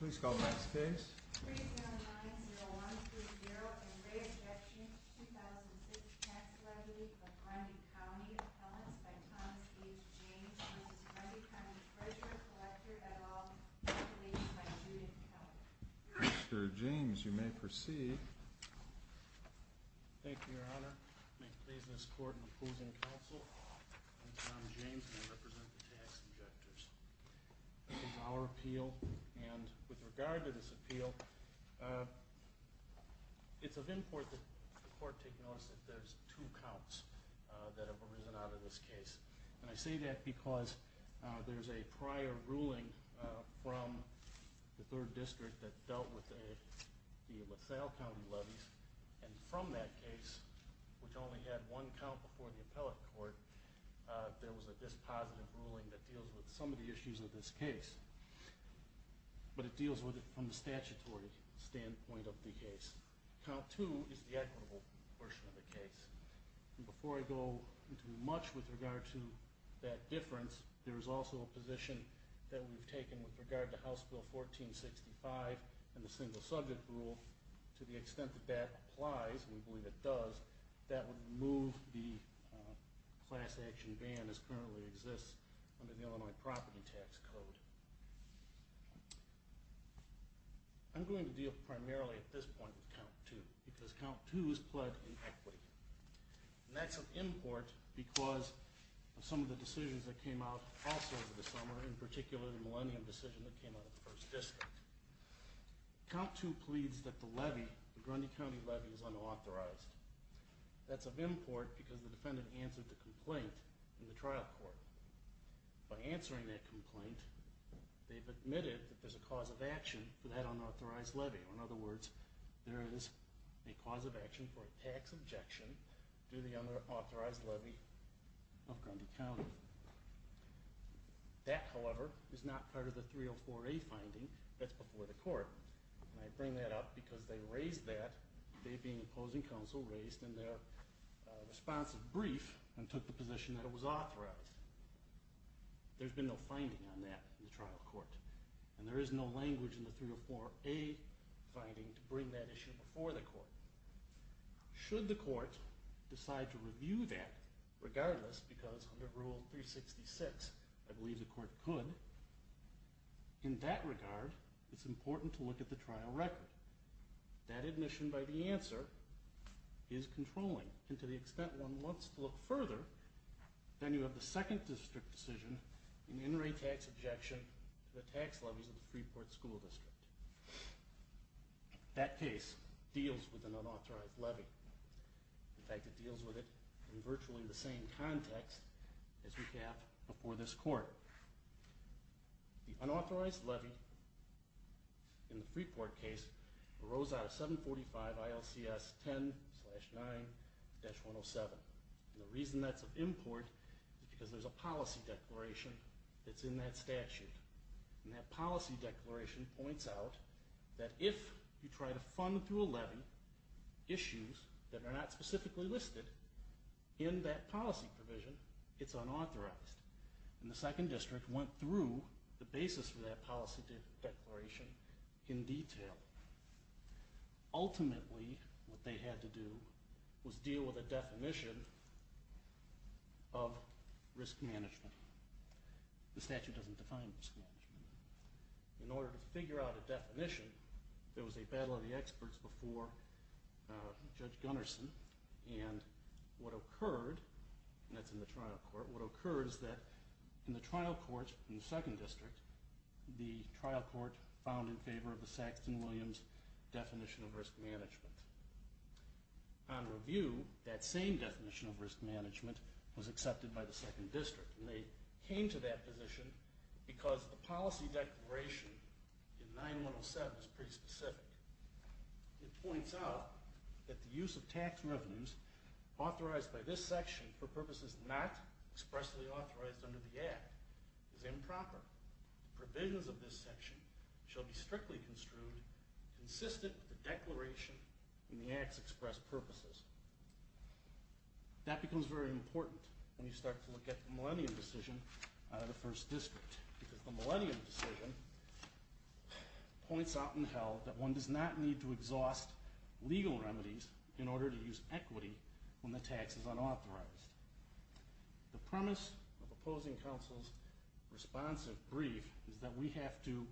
Please call the next case. Mr. James, you may proceed. Thank you, Your Honor. Please escort opposing counsel. I'm Tom James, and I represent the tax objectors. This is our appeal, and with regard to this appeal, it's of import that the court take notice that there's two counts that have arisen out of this case. And I say that because there's a prior ruling from the third district that dealt with the LaSalle County levies. And from that case, which only had one count before the appellate court, there was a dispositive ruling that deals with some of the issues of this case. But it deals with it from the statutory standpoint of the case. Count two is the equitable version of the case. Before I go into much with regard to that difference, there is also a position that we've taken with regard to House Bill 1465 and the single subject rule to the extent that that applies. And we believe it does. That would move the class action ban as currently exists under the Illinois property tax code. I'm going to deal primarily at this point with count two because count two is pledged in equity. And that's of import because of some of the decisions that came out also over the summer, in particular the millennium decision that came out of the first district. Count two pleads that the levy, the Grundy County levy, is unauthorized. That's of import because the defendant answered the complaint in the trial court. By answering that complaint, they've admitted that there's a cause of action for that unauthorized levy. Or in other words, there is a cause of action for a tax objection to the unauthorized levy of Grundy County. That, however, is not part of the 304A finding. That's before the court. And I bring that up because they raised that, they being opposing counsel, raised in their responsive brief and took the position that it was authorized. There's been no finding on that in the trial court. And there is no language in the 304A finding to bring that issue before the court. Should the court decide to review that, regardless, because under Rule 366, I believe the court could. In that regard, it's important to look at the trial record. That admission by the answer is controlling. And to the extent one wants to look further, then you have the second district decision, an in-rate tax objection to the tax levies of the Freeport School District. That case deals with an unauthorized levy. In fact, it deals with it in virtually the same context as we have before this court. The unauthorized levy in the Freeport case arose out of 745 ILCS 10-9-107. And the reason that's of import is because there's a policy declaration that's in that statute. And that policy declaration points out that if you try to fund through a levy issues that are not specifically listed in that policy provision, it's unauthorized. And the second district went through the basis for that policy declaration in detail. Ultimately, what they had to do was deal with a definition of risk management. The statute doesn't define risk management. In order to figure out a definition, there was a battle of the experts before Judge Gunnarsson. And what occurred, and that's in the trial court, what occurred is that in the trial court in the second district, the trial court found in favor of the Saxton Williams definition of risk management. On review, that same definition of risk management was accepted by the second district. And they came to that position because the policy declaration in 9-107 is pretty specific. It points out that the use of tax revenues authorized by this section for purposes not expressly authorized under the Act is improper. Provisions of this section shall be strictly construed consistent with the declaration and the Act's expressed purposes. That becomes very important when you start to look at the Millennium decision out of the first district, because the Millennium decision points out in hell that one does not need to exhaust legal remedies in order to use equity when the tax is unauthorized. The premise of opposing counsel's responsive brief is that we have to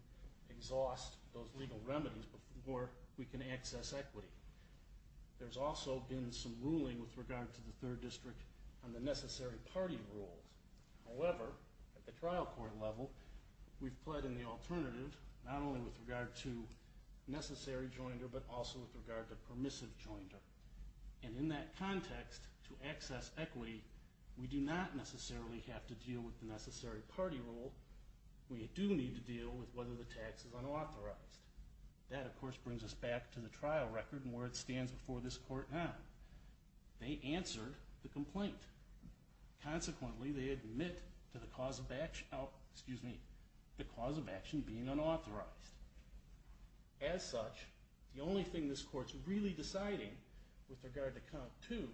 exhaust those legal remedies before we can access equity. There's also been some ruling with regard to the third district on the necessary party rules. However, at the trial court level, we've pled in the alternative, not only with regard to necessary joinder, but also with regard to permissive joinder. And in that context, to access equity, we do not necessarily have to deal with the necessary party rule. We do need to deal with whether the tax is unauthorized. That, of course, brings us back to the trial record and where it stands before this court now. They answered the complaint. Consequently, they admit to the cause of action, excuse me, the cause of action being unauthorized. As such, the only thing this court's really deciding with regard to count two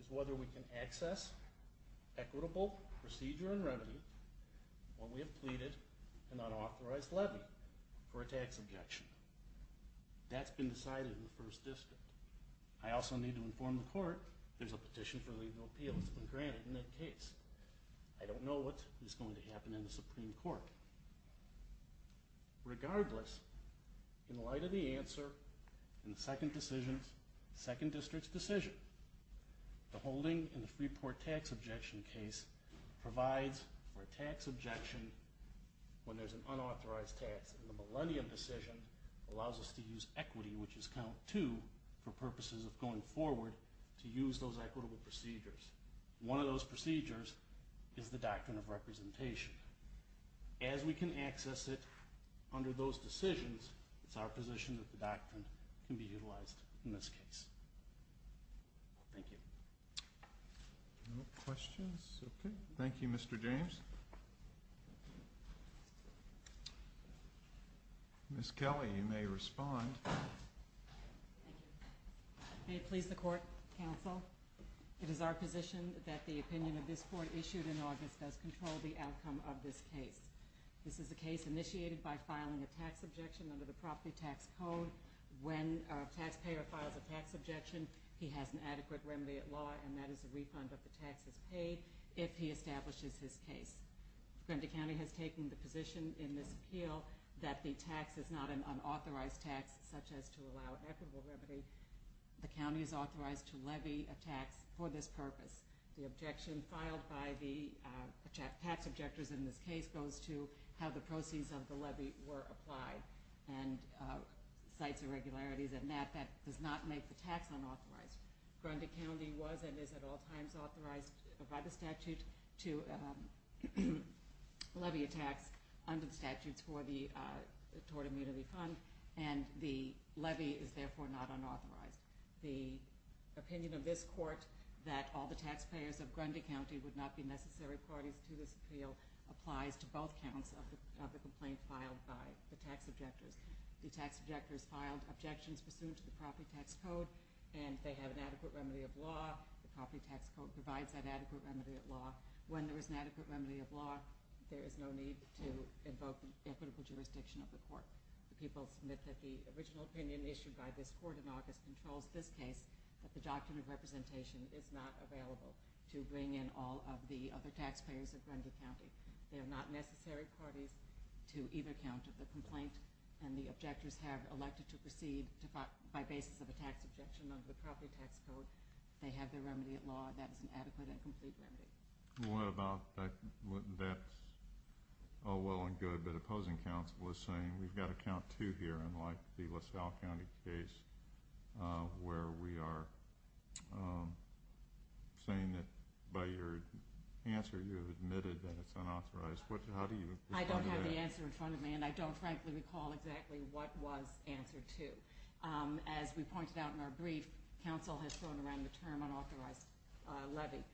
is whether we can access equitable procedure and remedy when we have pleaded an unauthorized levy for a tax objection. That's been decided in the first district. I also need to inform the court there's a petition for legal appeal that's been granted in that case. I don't know what is going to happen in the Supreme Court. Regardless, in light of the answer in the second district's decision, the holding in the Freeport tax objection case provides for a tax objection when there's an unauthorized tax, and the millennium decision allows us to use equity, which is count two, for purposes of going forward to use those equitable procedures. One of those procedures is the doctrine of representation. As we can access it under those decisions, it's our position that the doctrine can be utilized in this case. Thank you. Questions? Okay. Thank you, Mr. James. Ms. Kelly, you may respond. May it please the court, counsel? It is our position that the opinion of this court issued in August does control the outcome of this case. This is a case initiated by filing a tax objection under the property tax code. When a taxpayer files a tax objection, he has an adequate remedy at law, and that is a refund of the taxes paid if he establishes his case. Fremont County has taken the position in this appeal that the tax is not an unauthorized tax, such as to allow equitable remedy. The county is authorized to levy a tax for this purpose. The objection filed by the tax objectors in this case goes to how the proceeds of the levy were applied. And cites irregularities in that, that does not make the tax unauthorized. Grundy County was and is at all times authorized by the statute to levy a tax under the statutes for the tort immunity fund, and the levy is therefore not unauthorized. The opinion of this court that all the taxpayers of Grundy County would not be necessary parties to this appeal applies to both counts of the complaint filed by the tax objectors. The tax objectors filed objections pursuant to the property tax code, and they have an adequate remedy of law. The property tax code provides that adequate remedy of law. When there is an adequate remedy of law, there is no need to invoke equitable jurisdiction of the court. The people submit that the original opinion issued by this court in August controls this case, that the doctrine of representation is not available to bring in all of the other taxpayers of Grundy County. They are not necessary parties to either count of the complaint, and the objectors have elected to proceed by basis of a tax objection under the property tax code. They have their remedy of law, that is an adequate and complete remedy. What about, that's all well and good, but opposing counsel is saying we've got to count two here, unlike the LaSalle County case where we are saying that by your answer you have admitted that it's unauthorized, how do you respond to that? I don't have the answer in front of me, and I don't frankly recall exactly what was answer two. As we pointed out in our brief, counsel has thrown around the term unauthorized levy,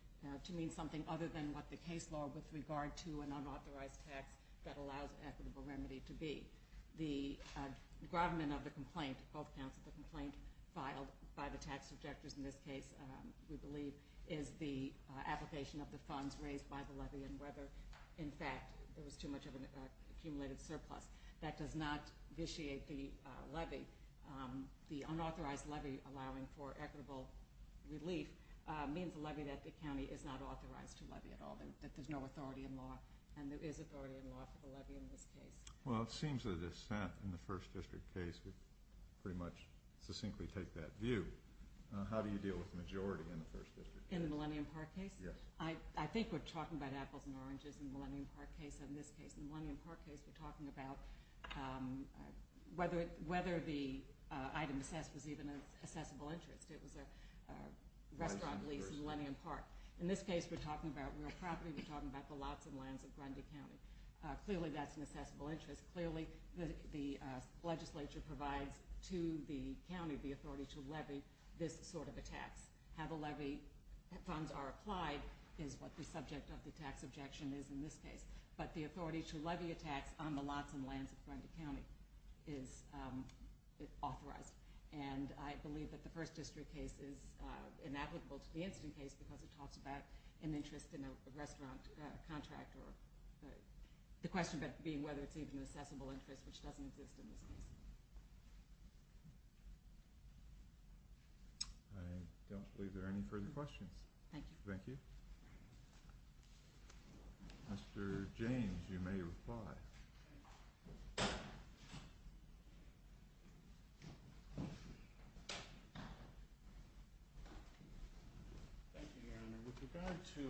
to mean something other than what the case law with regard to an unauthorized tax that allows equitable remedy to be. The government of the complaint, both counsel, the complaint filed by the tax objectors in this case, we believe, is the application of the funds raised by the levy and whether, in fact, there was too much of an accumulated surplus. That does not vitiate the levy. The unauthorized levy allowing for equitable relief means a levy that the county is not authorized to levy at all. That there's no authority in law, and there is authority in law for the levy in this case. Well, it seems that a dissent in the first district case would pretty much succinctly take that view. How do you deal with the majority in the first district? In the Millennium Park case? Yes. I think we're talking about apples and oranges in the Millennium Park case and in this case. In the Millennium Park case, we're talking about whether the item assessed was even an assessable interest. It was a restaurant lease in Millennium Park. In this case, we're talking about real property, we're talking about the lots and lands of Grundy County. Clearly, that's an assessable interest. Clearly, the legislature provides to the county the authority to levy this sort of a tax. How the levy funds are applied is what the subject of the tax objection is in this case. But the authority to levy a tax on the lots and lands of Grundy County is authorized. And I believe that the first district case is inapplicable to the incident case, because it talks about an interest in a restaurant contract, or the question being whether it's even an assessable interest, which doesn't exist in this case. I don't believe there are any further questions. Thank you. Thank you. Mr. James, you may reply. Thank you, Your Honor. With regard to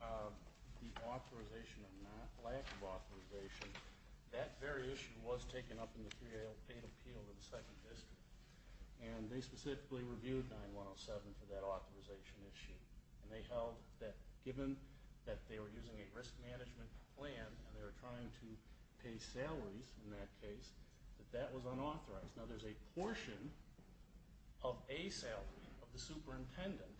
the authorization or lack of authorization, that very issue was taken up in the 308 appeal to the second district. And they specifically reviewed 9107 for that authorization issue. And they held that given that they were using a risk management plan, and they were trying to pay salaries in that case, that that was unauthorized. Now there's a portion of ASEL of the superintendent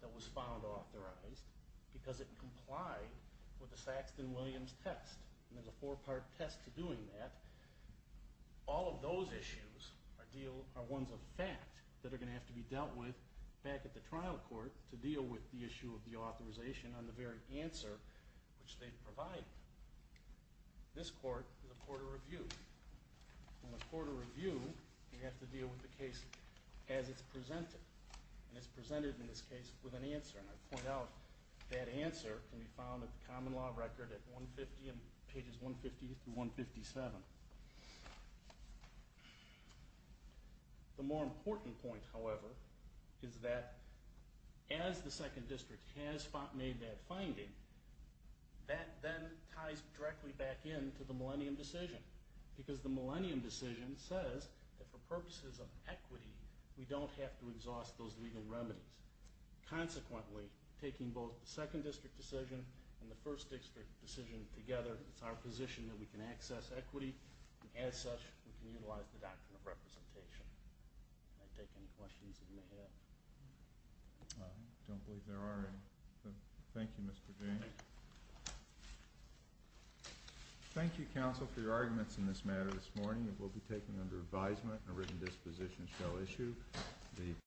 that was found authorized, because it complied with the Saxton Williams test, and there's a four part test to doing that. All of those issues are ones of fact that are going to have to be dealt with back at the trial court to deal with the issue of the authorization on the very answer which they provide. This court is a court of review. In a court of review, you have to deal with the case as it's presented. And it's presented in this case with an answer. And I point out, that answer can be found at the common law record at pages 150 through 157. The more important point, however, is that as the second district has made that finding, that then ties directly back in to the millennium decision. Because the millennium decision says that for purposes of equity, we don't have to exhaust those legal remedies. Consequently, taking both the second district decision and the first district decision together, it's our position that we can access equity, and as such, we can utilize the doctrine of representation. Can I take any questions that you may have? I don't believe there are any. Thank you, Mr. James. Thank you, counsel, for your arguments in this matter this morning. It will be taken under advisement, and a written disposition shall issue.